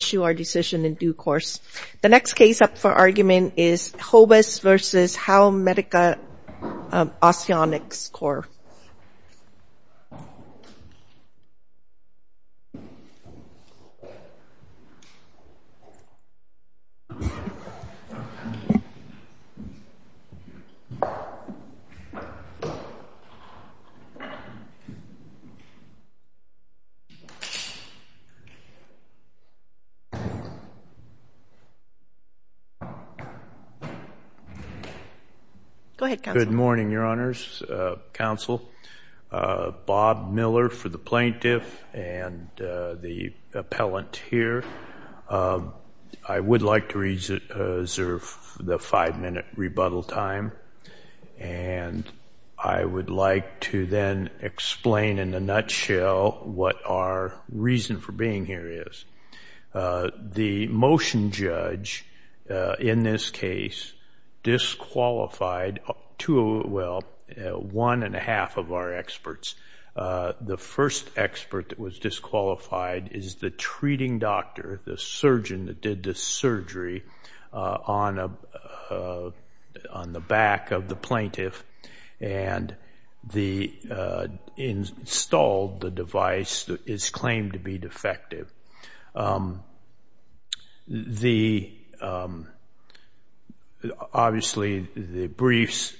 The next case up for argument is Hobus v. Howmedica Osteonics Corp. Good morning, your honors, counsel, Bob Miller for the plaintiff and the appellant here. I would like to reserve the five minute rebuttal time and I would like to then explain in a The motion judge in this case disqualified two, well, one and a half of our experts. The first expert that was disqualified is the treating doctor, the surgeon that did the surgery on the back of the plaintiff and installed the device that is claimed to be defective. The, obviously the briefs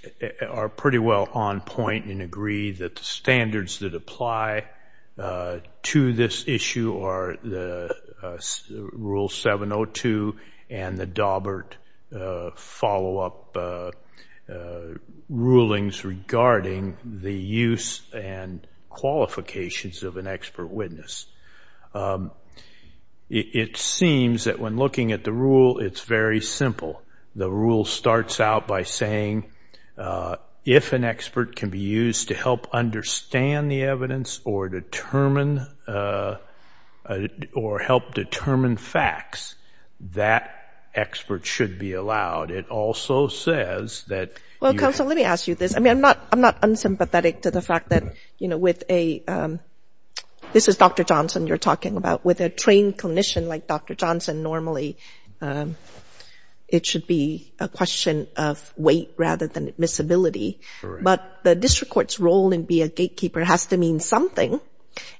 are pretty well on point and agree that the standards that apply to this issue are the Rule 702 and the Daubert follow-up rulings regarding the use and qualifications of an expert witness. It seems that when looking at the rule, it's very simple. The rule starts out by saying if an expert can be used to help understand the evidence or determine or help determine facts, that expert should be allowed. It also says that... Well, counsel, let me ask you this. I mean, I'm not, I'm not unsympathetic to the fact that, with a, this is Dr. Johnson you're talking about, with a trained clinician like Dr. Johnson, normally it should be a question of weight rather than admissibility, but the district court's role in being a gatekeeper has to mean something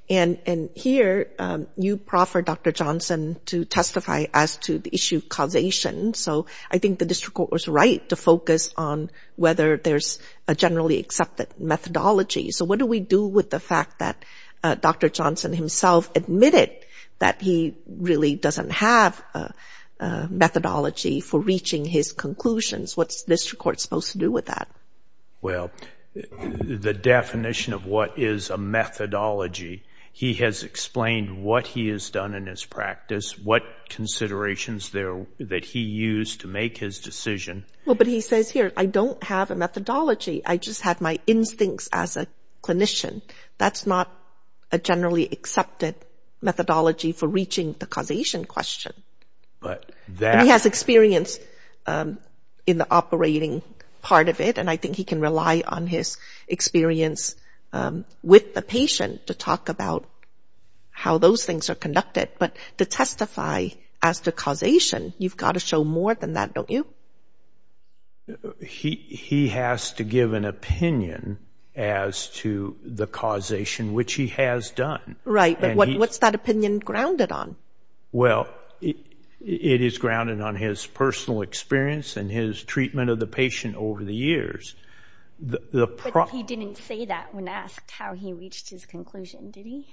and here you proffer Dr. Johnson to testify as to the issue of causation. So I think the district court was right to focus on whether there's a generally accepted methodology. So what do we do with the fact that Dr. Johnson himself admitted that he really doesn't have a methodology for reaching his conclusions? What's the district court supposed to do with that? Well, the definition of what is a methodology, he has explained what he has done in his practice, what considerations there, that he used to make his decision. Well, but he says here, I don't have a methodology. I just have my instincts as a clinician. That's not a generally accepted methodology for reaching the causation question. But that... And he has experience in the operating part of it and I think he can rely on his experience with the patient to talk about how those things are conducted. But to testify as to causation, you've got to show more than that, don't you? He has to give an opinion as to the causation, which he has done. Right, but what's that opinion grounded on? Well, it is grounded on his personal experience and his treatment of the patient over the years. But he didn't say that when asked how he reached his conclusion, did he?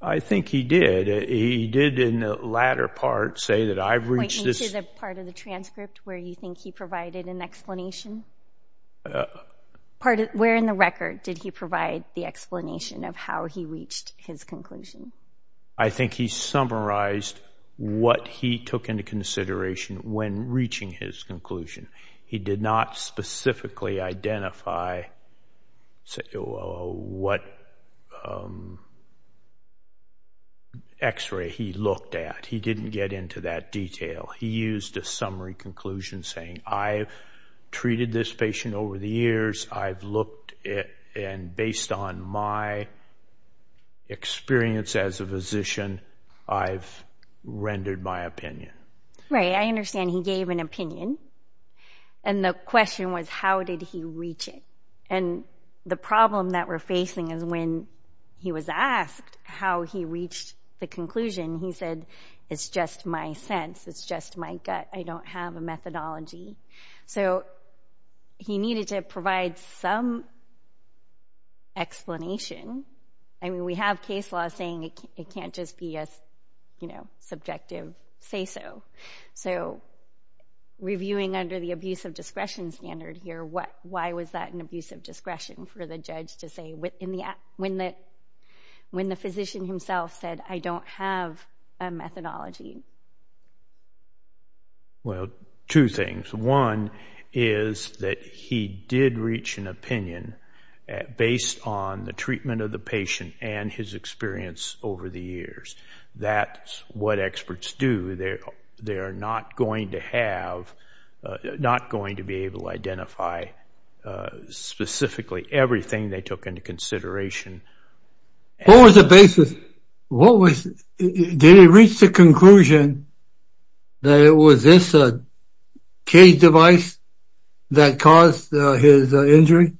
I think he did. He did in the latter part say that I've reached this... Point me to the part of the transcript where you think he provided an explanation? Where in the record did he provide the explanation of how he reached his conclusion? I think he summarized what he took into consideration when reaching his conclusion. He did not specifically identify what x-ray he looked at. He didn't get into that detail. He used a summary conclusion saying, I've treated this patient over the years. I've looked and based on my experience as a physician, I've rendered my opinion. Right. I understand he gave an opinion and the question was, how did he reach it? And the problem that we're facing is when he was asked how he reached the conclusion, he said, it's just my sense. It's just my gut. I don't have a methodology. So he needed to provide some explanation. I mean, we have case law saying it can't just be a subjective say-so. So reviewing under the abuse of discretion standard here, why was that an abuse of discretion for the judge to say when the physician himself said, I don't have a methodology? Well, two things. One is that he did reach an opinion based on the treatment of the patient and his experience over the years. That's what experts do. They're not going to be able to identify specifically everything they took into consideration. What was the basis? Did he reach the conclusion that it was this cage device that caused his injury?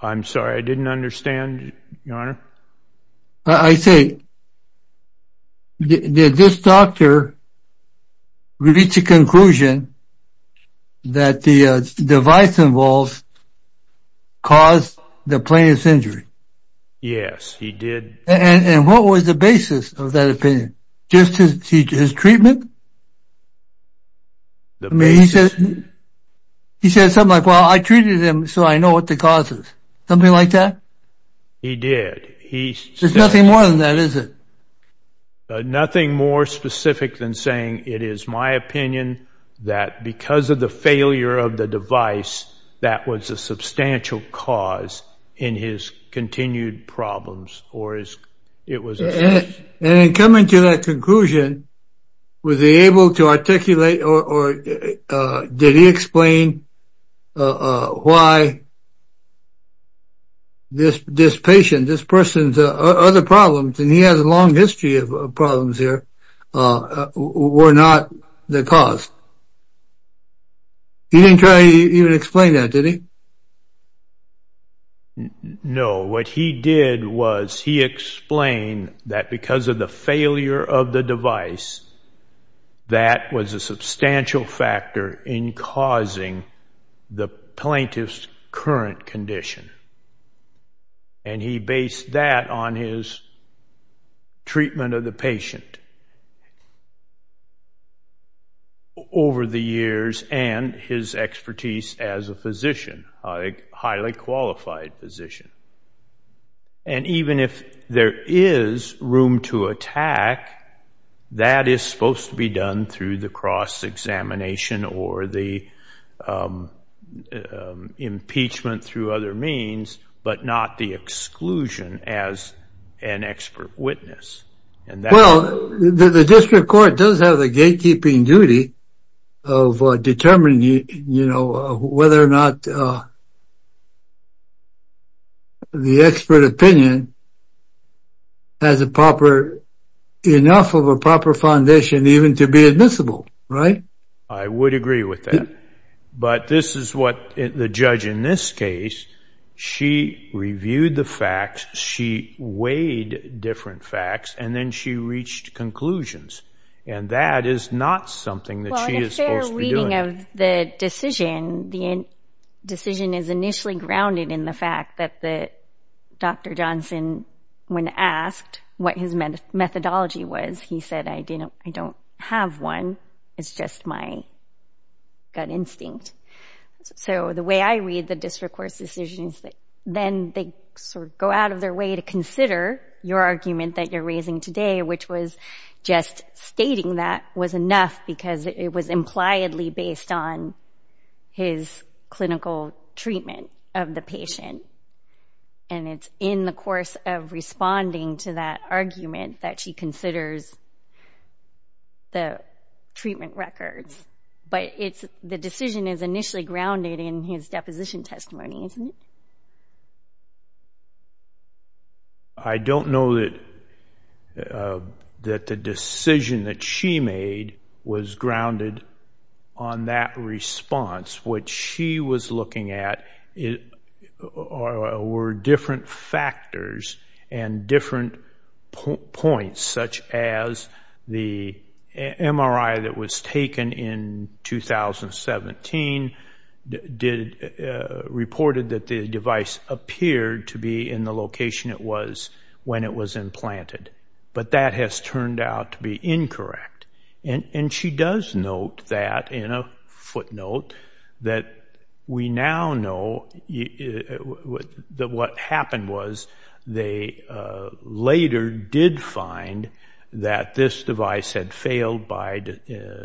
I'm sorry, I didn't understand, Your Honor. I say, did this doctor reach a conclusion that the device involved caused the plaintiff's injury? Yes, he did. And what was the basis of that opinion? Just his treatment? The basis? I mean, he said something like, well, I treated him so I know what the cause is. Something like that? He did. There's nothing more than that, is it? Nothing more specific than saying it is my opinion that because of the failure of the device, that was a substantial cause in his continued problems. And in coming to that conclusion, was he able to articulate or did he explain why this patient, this person's other problems, and he has a long history of problems here, were not the cause? He didn't try to even explain that, did he? No. What he did was he explained that because of the failure of the device, that was a substantial factor in causing the plaintiff's current condition. And he based that on his treatment of the patient over the years and his expertise as a physician, a highly qualified physician. And even if there is room to attack, that is supposed to be done through the cross-examination or the impeachment through other means, but not the exclusion as an expert witness. Well, the district court does have the gatekeeping duty of determining whether or not the expert opinion has enough of a proper foundation even to be admissible, right? I would agree with that. But this is what the judge in this case, she reviewed the facts, she weighed different facts, and then she reached conclusions. And that is not something that she is supposed to be doing. Well, in a fair reading of the decision, the decision is initially grounded in the fact that Dr. Johnson, when asked what his methodology was, he said, I don't have one. It's just my gut instinct. So the way I read the district court's decisions, then they sort of go out of their way to consider your argument that you're raising today, which was just stating that was enough because it was impliedly based on his clinical treatment of the patient. And it's in the course of responding to that argument that she considers the treatment records. But the decision is initially grounded in his deposition testimony, isn't it? I don't know that the decision that she made was grounded on that response. What she was looking at were different factors and different points, such as the MRI that was taken in 2017 did report that the device appeared to be in the location it was when it was implanted. But that has turned out to be incorrect. And she does note that in a footnote that we now know that what happened was they later did find that this device had failed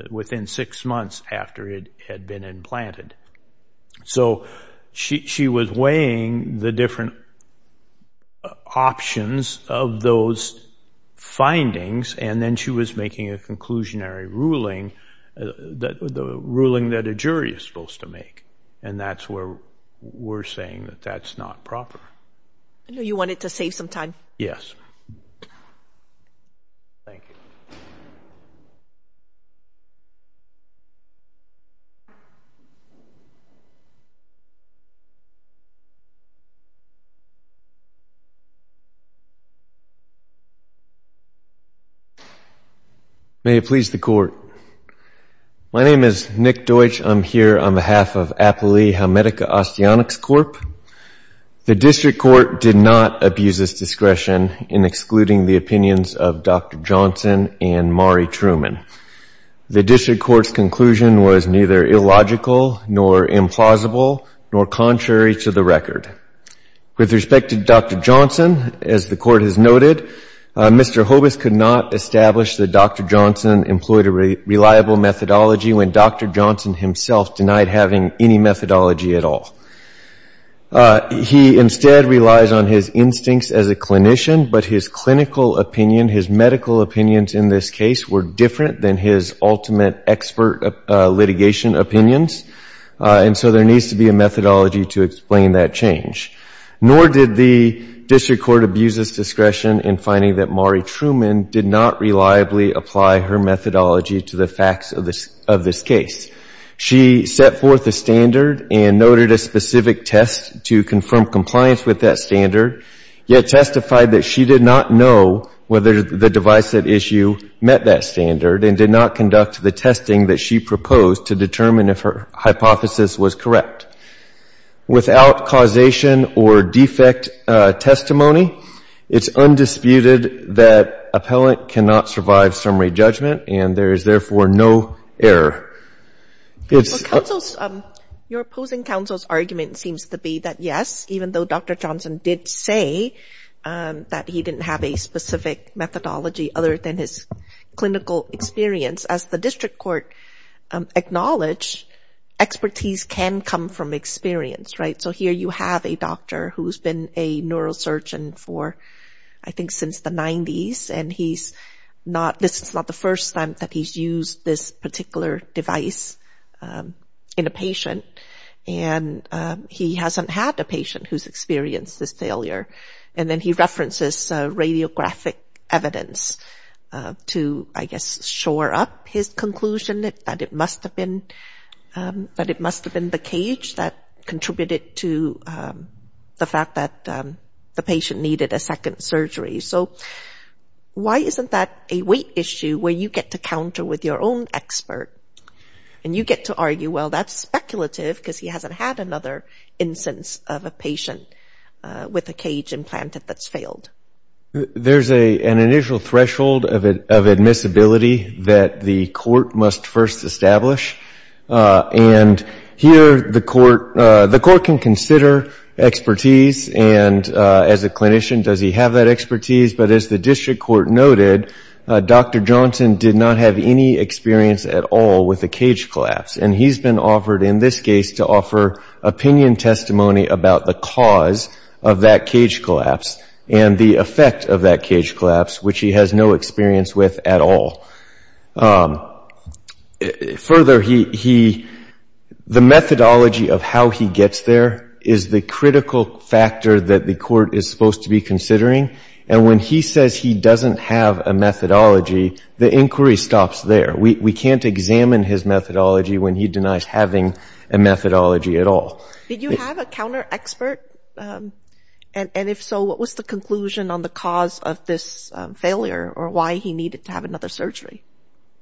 within six months after it had been implanted. So she was weighing the different options of those findings, and then she was making a conclusionary ruling, the ruling that a jury is supposed to make. And that's where we're saying that that's not proper. I know you wanted to save some time. Yes. Thank you. May it please the court. My name is Nick Deutsch. I'm here on behalf of Appley Helmetica Osteotics Corp. The district court did not abuse its discretion in excluding the opinions of Dr. Johnson and Mari Truman. The district court's conclusion was neither illogical nor implausible nor contrary to the record. With respect to Dr. Johnson, as the court has noted, Mr. Hobus could not establish that Dr. Johnson employed a reliable methodology when Dr. Johnson himself denied having any methodology at all. He instead relies on his instincts as a clinician, but his clinical opinion, his medical opinions in this case, were different than his ultimate expert litigation opinions. And so there needs to be a methodology to explain that change. Nor did the district court abuse its discretion in finding that Mari Truman did not reliably apply her methodology to the facts of this case. She set forth a standard and noted a specific test to confirm compliance with that standard, yet testified that she did not know whether the device at issue met that standard and did not conduct the testing that she proposed to determine if her hypothesis was correct. Without causation or defect testimony, it's undisputed that appellant cannot survive summary judgment and there is therefore no error. Your opposing counsel's argument seems to be that yes, even though Dr. Johnson did say that he didn't have a specific methodology other than his clinical experience, as the district court acknowledged, expertise can come from experience, right? So here you have a doctor who's been a neurosurgeon for, I think, since the 90s and he's not, this is not the first time that he's used this particular device in a patient and he hasn't had a patient who's experienced this failure. And then he references radiographic evidence to, I guess, shore up his conclusion that it must have been, that it must have been the cage that contributed to the fact that the patient needed a second surgery. So why isn't that a weight issue where you get to counter with your own expert and you get to argue, well, that's speculative because he hasn't had another instance of a patient with a cage implanted that's failed? There's an initial threshold of admissibility that the court must first establish. And here the court, the court can consider expertise and as a clinician, does he have that expertise? But as the district court noted, Dr. Johnson did not have any experience at all with a cage collapse. And he's been offered, in this case, to offer opinion testimony about the cause of that cage collapse and the effect of that cage collapse, which he has no experience with at all. Further, he, the methodology of how he gets there is the critical factor that the court is supposed to be considering. And when he says he doesn't have a methodology, the inquiry stops there. We can't examine his methodology when he denies having a methodology at all. Did you have a counter expert? And if so, what was the conclusion on the cause of this failure or why he needed to have another surgery?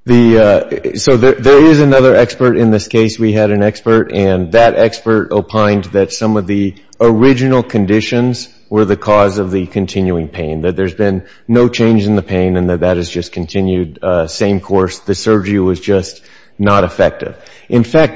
The, so there is another expert in this case. We had an expert and that expert opined that some of the original conditions were the cause of the continuing pain, that there's been no change in the pain and that that has just continued same course. The surgery was just not effective. In suspect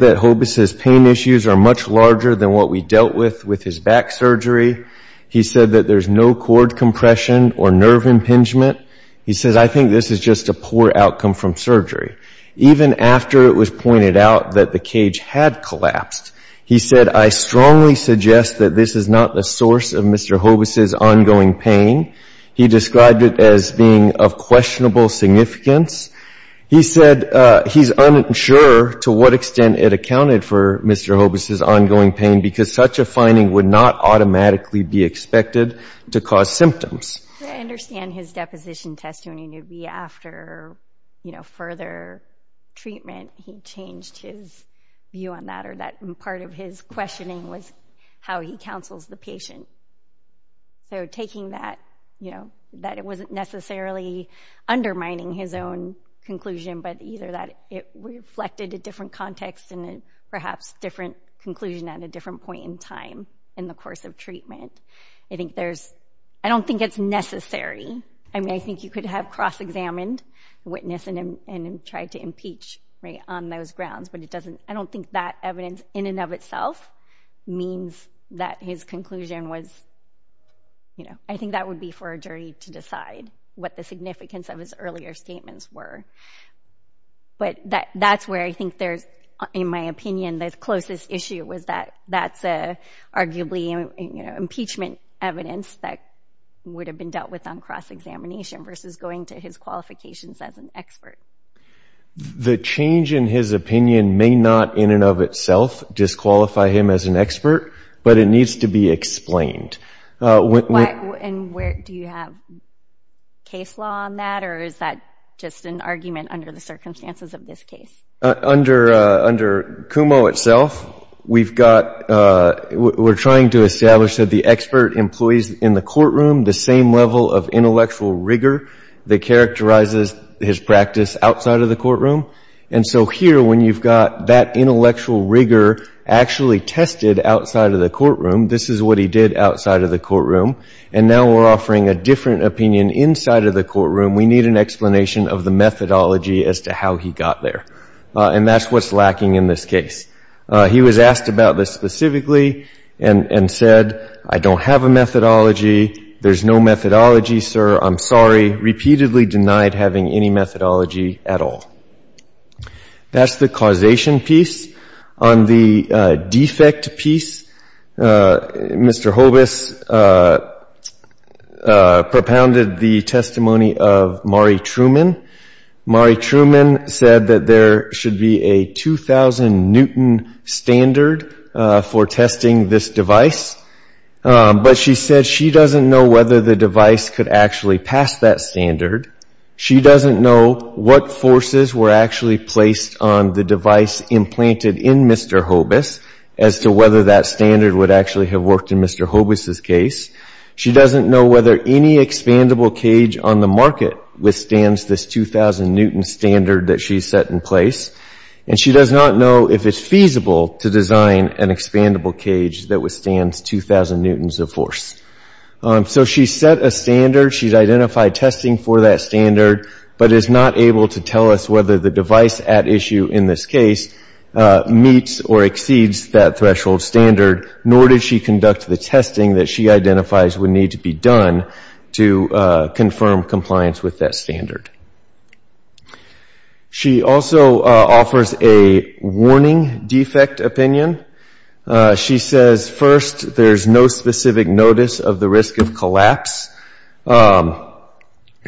that Hobus's pain issues are much larger than what we dealt with with his back surgery. He said that there's no cord compression or nerve impingement. He says, I think this is just a poor outcome from surgery. Even after it was pointed out that the cage had collapsed, he said, I strongly suggest that this is not the source of Mr. Hobus's ongoing pain. He described it as being of questionable significance. He said he's unsure to what extent it accounted for Mr. Hobus's ongoing pain because such a finding would not automatically be expected to cause symptoms. I understand his deposition test when he would be after, you know, further treatment, he changed his view on that or that part of his questioning was how he counsels the patient. So taking that, that it wasn't necessarily undermining his own conclusion, but either that it reflected a different context and perhaps different conclusion at a different point in time in the course of treatment. I think there's, I don't think it's necessary. I mean, I think you could have cross-examined witness and tried to impeach right on those grounds, but it doesn't, I don't think that evidence in and of itself means that his conclusion was, you know, I think that would be for a jury to decide what the significance of his earlier statements were. But that's where I think there's, in my opinion, the closest issue was that that's arguably impeachment evidence that would have been dealt with on cross-examination versus going to his qualifications as an expert. The change in his opinion may not in and of itself disqualify him as an expert, but it needs to be explained. What, and where, do you have case law on that or is that just an argument under the circumstances of this case? Under, under Kumo itself, we've got, we're trying to establish that the expert employees in the courtroom, the same level of intellectual rigor that characterizes his practice outside of the And so here, when you've got that intellectual rigor actually tested outside of the courtroom, this is what he did outside of the courtroom. And now we're offering a different opinion inside of the courtroom. We need an explanation of the methodology as to how he got there. And that's what's lacking in this case. He was asked about this specifically and said, I don't have a methodology. There's no methodology, sir. I'm sorry. Repeatedly having any methodology at all. That's the causation piece. On the defect piece, Mr. Hobus propounded the testimony of Mari Truman. Mari Truman said that there should be a 2000 Newton standard for testing this device. But she said she doesn't know whether the device could actually pass that standard. She doesn't know what forces were actually placed on the device implanted in Mr. Hobus as to whether that standard would actually have worked in Mr. Hobus's case. She doesn't know whether any expandable cage on the market withstands this 2000 Newton standard that she set in place. And she does not know if it's feasible to design an expandable cage that withstands 2000 Newtons of force. So she set a standard. She's identified testing for that standard but is not able to tell us whether the device at issue in this case meets or exceeds that threshold standard, nor did she conduct the testing that she identifies would need to be done to confirm compliance with that standard. She also offers a warning defect opinion. She says, first, there's no specific notice of the risk of collapse.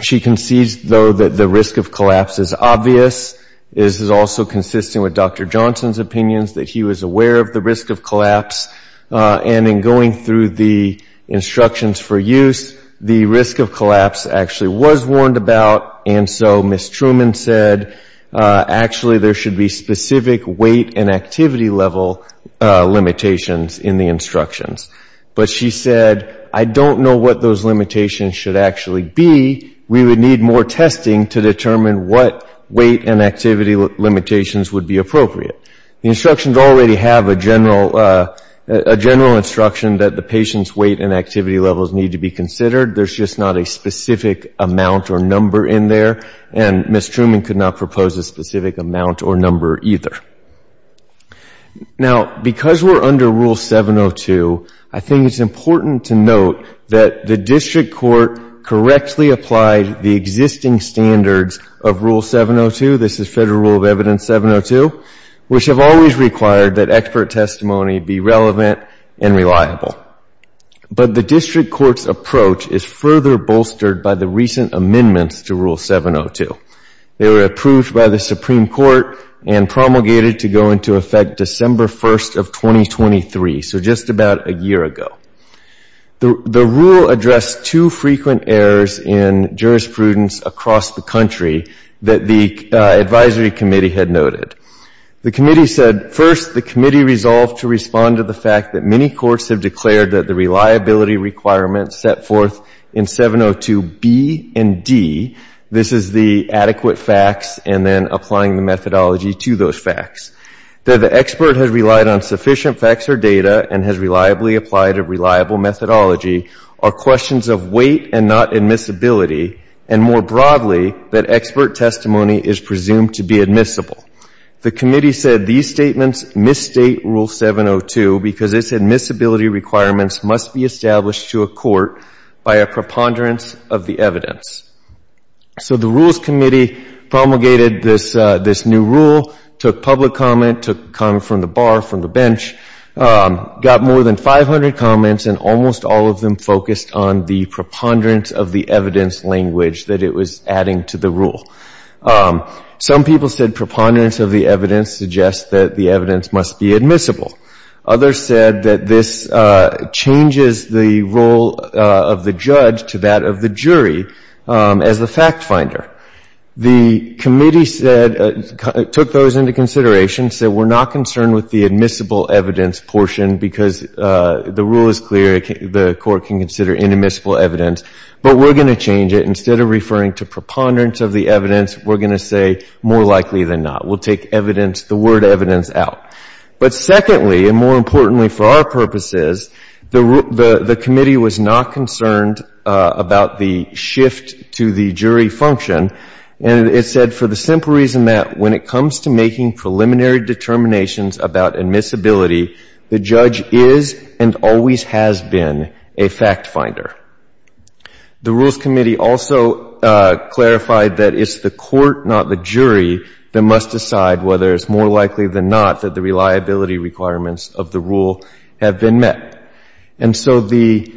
She concedes, though, that the risk of collapse is obvious. This is also consistent with Dr. Johnson's opinions that he was aware of the risk of collapse. And in going through the instructions for use, the risk of collapse actually was warned about. And so Ms. Truman said, actually, there should be specific weight and activity level limitations in the instructions. But she said, I don't know what those limitations should actually be. We would need more testing to determine what weight and activity limitations would be appropriate. The instructions already have a general instruction that the patient's weight and activity levels need to be considered. There's just not a specific amount or number in there. And Ms. Truman could not propose a specific amount or number either. Now, because we're under Rule 702, I think it's important to note that the District Court correctly applied the existing standards of Rule 702, this is Federal Rule of Evidence 702, which have always required that expert testimony be relevant and reliable. But the District Court's approach is further bolstered by the recent amendments to Rule 702. They were approved by the Supreme Court and promulgated to go into effect December 1st of 2023, so just about a year ago. The rule addressed two frequent errors in jurisprudence across the country that the advisory committee had noted. The committee said, first, the committee resolved to respond to the fact that many courts have declared that the reliability requirements set forth in 702 B and D, this is the adequate facts, and then applying the methodology to those facts. That the expert has relied on sufficient facts or data and has reliably applied a reliable methodology are questions of weight and not admissibility, and more broadly, that expert testimony is presumed to be admissible. The committee said these statements misstate Rule 702 because its admissibility requirements must be established to a court by a preponderance of the evidence. So the Rules Committee promulgated this new rule, took public comment, took comment from the bar, from the bench, got more than 500 comments, and almost all of them focused on the preponderance of the evidence language that it was adding to the rule. Some people said preponderance of the evidence suggests that the evidence must be admissible. Others said that this changes the role of the judge to that of the jury as the fact finder. The committee said, took those into consideration, said we're not concerned with the admissible evidence portion because the rule is clear, the court can consider inadmissible evidence, but we're going to change it. Instead of referring to preponderance of the evidence, we're going to say more likely than not. We'll take evidence, the word evidence out. But secondly, and more importantly for our purposes, the committee was not concerned about the shift to the jury function, and it said for the simple reason that when it comes to making preliminary determinations about admissibility, the judge is and always has been a fact finder. The Rules Committee also clarified that it's the court, not the jury, that must decide whether it's more likely than not that the reliability requirements of the rule have been met. And so the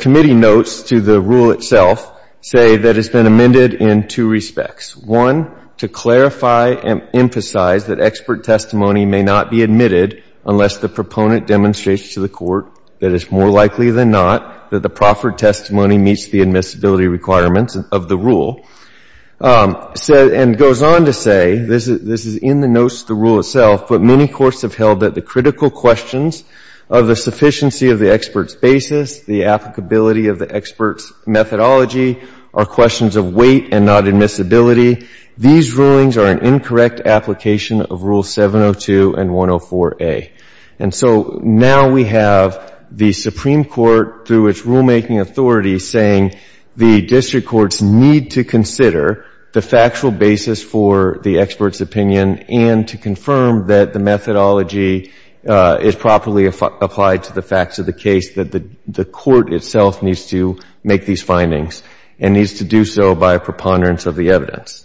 committee notes to the rule itself say that it's been amended in two respects. One, to clarify and emphasize that expert testimony may not be admitted unless the proponent demonstrates to the court that it's more likely than not that the proffered testimony meets the admissibility requirements of the rule, and goes on to say, this is in the notes to the rule itself, but many courts have held that the critical questions of the sufficiency of the expert's basis, the applicability of the expert's methodology, are questions of weight and not admissibility. These rulings are an incorrect application of Rule 702 and 104a. And so now we have the Supreme Court, through its rulemaking authority, saying the district courts need to consider the factual basis for the expert's opinion and to confirm that the methodology is properly applied to the facts of the case, that the court itself needs to make these findings and needs to do so by a preponderance of the evidence.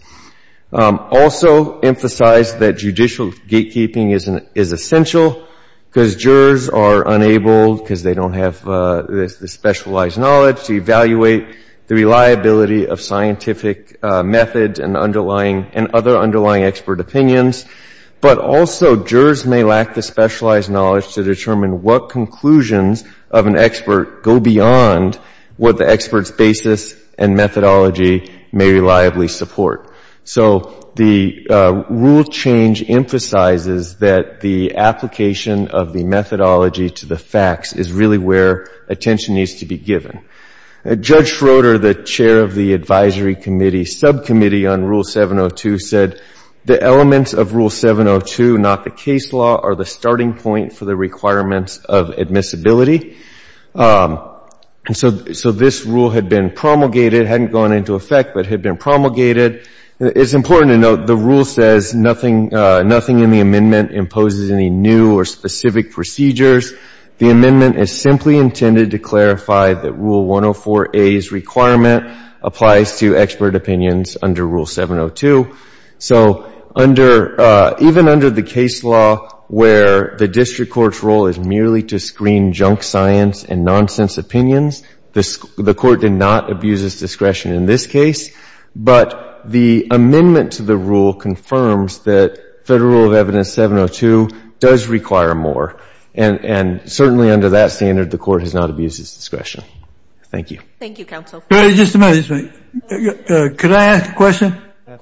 Also emphasize that judicial gatekeeping is essential because jurors are unable, because they don't have the specialized knowledge, to evaluate the reliability of scientific methods and underlying, and other underlying expert opinions. But also jurors may lack the specialized knowledge to determine what conclusions of an expert go beyond what the expert's basis and methodology may reliably support. So the rule change emphasizes that the application of the methodology to the facts is really where attention needs to be given. Judge Schroeder, the chair of the advisory committee subcommittee on Rule 702, said the elements of Rule 702, not the case law, are the starting point for the requirements of admissibility. And so this rule had been promulgated, hadn't gone into effect, but had been promulgated. It's important to note the rule says nothing in the amendment imposes any new or specific procedures. The amendment is simply intended to clarify that Rule 104a's requirement applies to expert opinions under Rule 702. So even under the case law where the district court's role is merely to screen junk science and nonsense opinions, the court did not abuse its discretion in this case. But the amendment to the rule confirms that Federal Rule of Evidence 702 does require more. And certainly under that standard, the court has not abused its discretion. Thank you. Thank you, counsel. Just a minute. Could I ask a question? Yes.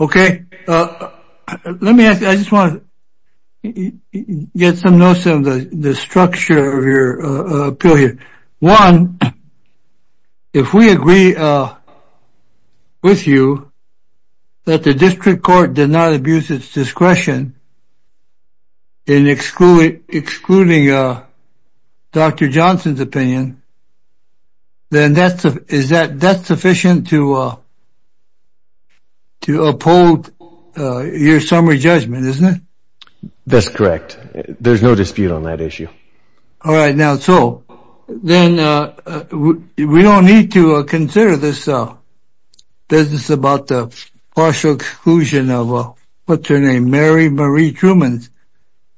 Okay. Let me ask, I just want to get some notes on the structure of your appeal here. One, if we agree with you that the district court did not abuse its discretion in excluding Dr. Johnson's opinion, then that's sufficient to uphold your summary judgment, isn't it? That's correct. There's no dispute on that issue. All right. Now, so then we don't need to consider this business about the partial exclusion of, what's her name, Mary Marie Truman's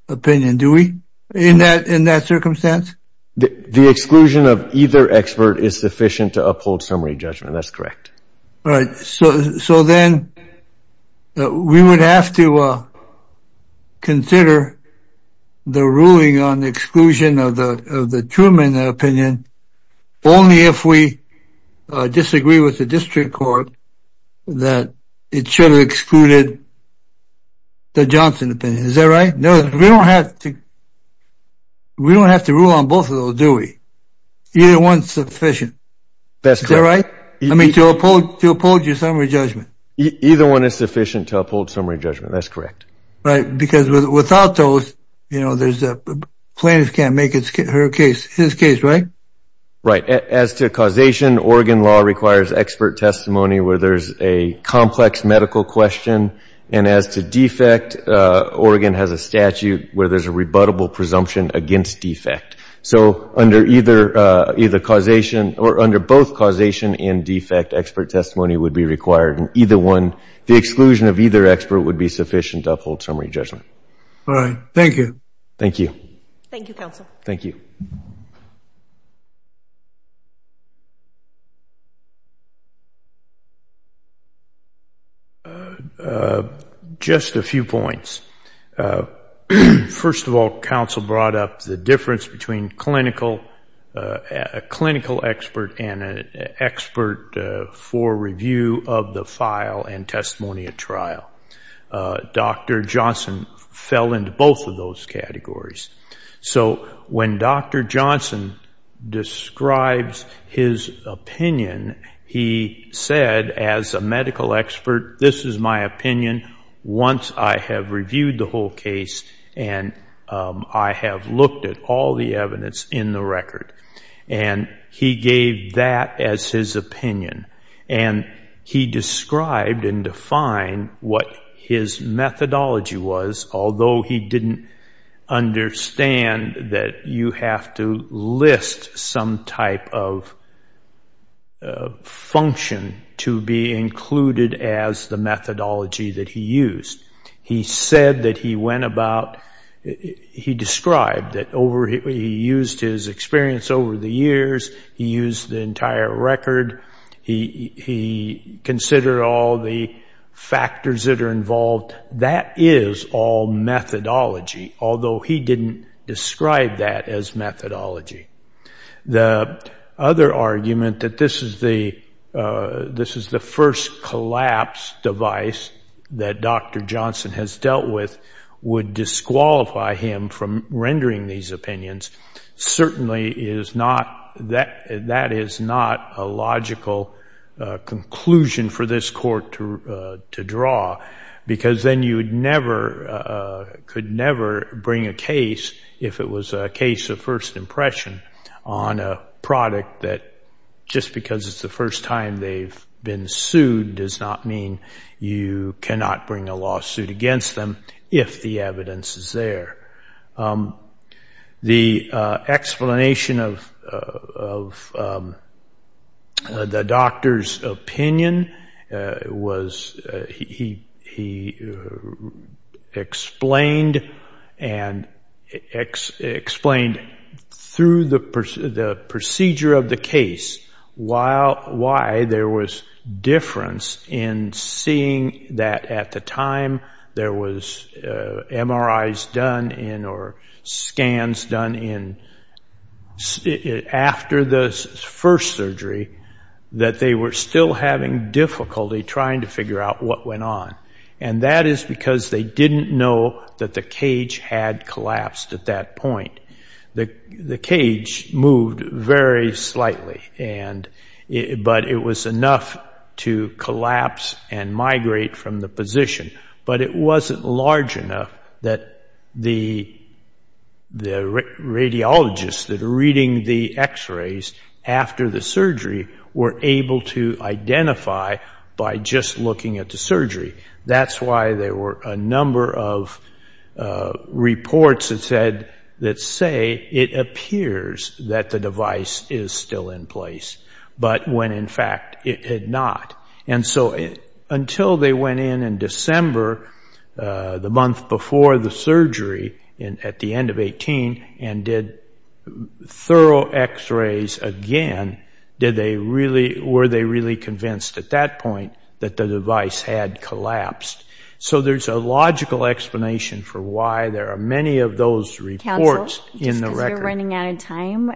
opinion, do we, in that circumstance? The exclusion of either expert is sufficient to uphold summary judgment. That's correct. All right. So then we would have to consider the ruling on the exclusion of the Truman opinion only if we disagree with the district court that it should have excluded the Johnson opinion. Is that right? No, we don't have to. We don't have to rule on both of those, do we? Either one's sufficient. That's right. I mean, to uphold your summary judgment. Either one is sufficient to uphold summary judgment. That's correct. Right. Because without those, you know, there's a plaintiff can't make her case, his case, right? Right. As to causation, Oregon law requires expert testimony where there's a complex medical question. And as to defect, Oregon has a statute where there's a rebuttable presumption against defect. So under either causation or under both causation and defect, expert testimony would be required in either one. The exclusion of either expert would be sufficient to uphold summary judgment. All right. Thank you. Thank you. Thank you, counsel. Thank you. Just a few points. First of all, counsel brought up the difference between a clinical expert and an expert for review of the file and testimony at trial. Dr. Johnson fell into both of those categories. So when Dr. Johnson describes his opinion, he said as a medical expert, this is my opinion once I have reviewed the whole case and I have looked at all the evidence in the record. And he gave that as his opinion. And he described and defined what his methodology was, although he didn't understand that you have to list some type of function to be included as the methodology that he used. He said that he went about, he described that he used his experience over the years. He used the entire record. He considered all the factors that are involved. That is all methodology, although he didn't describe that as methodology. The other argument that this is the first collapse device that Dr. Johnson has would disqualify him from rendering these opinions. Certainly, that is not a logical conclusion for this court to draw because then you could never bring a case, if it was a case of first impression, on a product that just because it's the first time they've been sued does not mean you cannot bring a lawsuit against them if the evidence is there. The explanation of the doctor's opinion was he explained and explained through the procedure of case why there was difference in seeing that at the time there was MRIs done in or scans done in after the first surgery, that they were still having difficulty trying to figure out what went on. And that is because they didn't know that the cage had collapsed at that point. The cage moved very slightly, but it was enough to collapse and migrate from the position. But it wasn't large enough that the radiologists that are reading the x-rays after the surgery were able to identify by just looking at the surgery. That's why there were a number of reports that said, that say, it appears that the device is still in place, but when in fact it had not. And so until they went in in December, the month before the surgery at the end of 18, and did thorough x-rays again, were they really convinced at that point that the device had collapsed? So there's a logical explanation for why there are many of those reports in the record. Counsel, just because you're running out of time,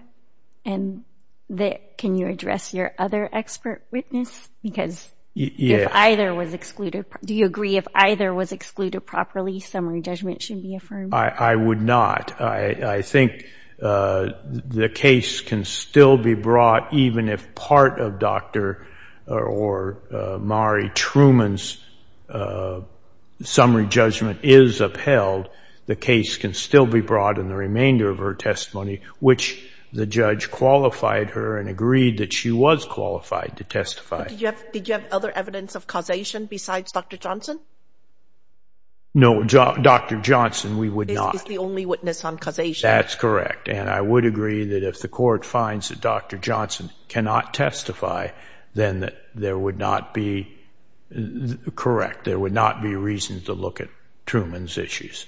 can you address your other expert witness? Because if either was excluded, do you agree if either was excluded properly, summary judgment should be affirmed? I would not. I think the case can still be brought even if part of Dr. or Mari Truman's summary judgment is upheld. The case can still be brought in the remainder of her testimony, which the judge qualified her and agreed that she was qualified to testify. But did you have other evidence of causation besides Dr. Johnson? No, Dr. Johnson we would not. This is the only witness on causation. That's correct. And I would agree that if the court finds that Dr. Johnson cannot testify, then there would not be, correct, there would not be reason to look at Truman's issues.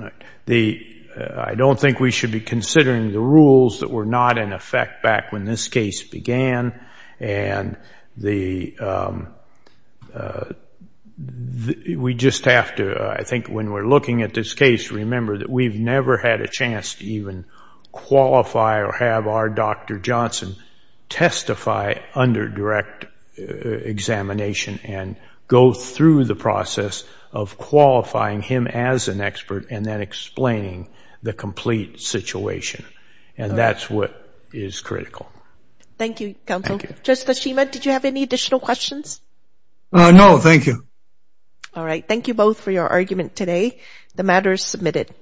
I don't think we should be considering the rules that were not in effect back when this case began. And we just have to, I think when we're looking at this case, remember that we've never had a chance to even qualify or have our Dr. Johnson testify under direct examination and go through the process of qualifying him as an expert and then explaining the complete situation. And that's what is critical. Thank you, counsel. Judge Tashima, did you have any additional questions? No, thank you. All right. Thank you both for your argument today. The matter is submitted.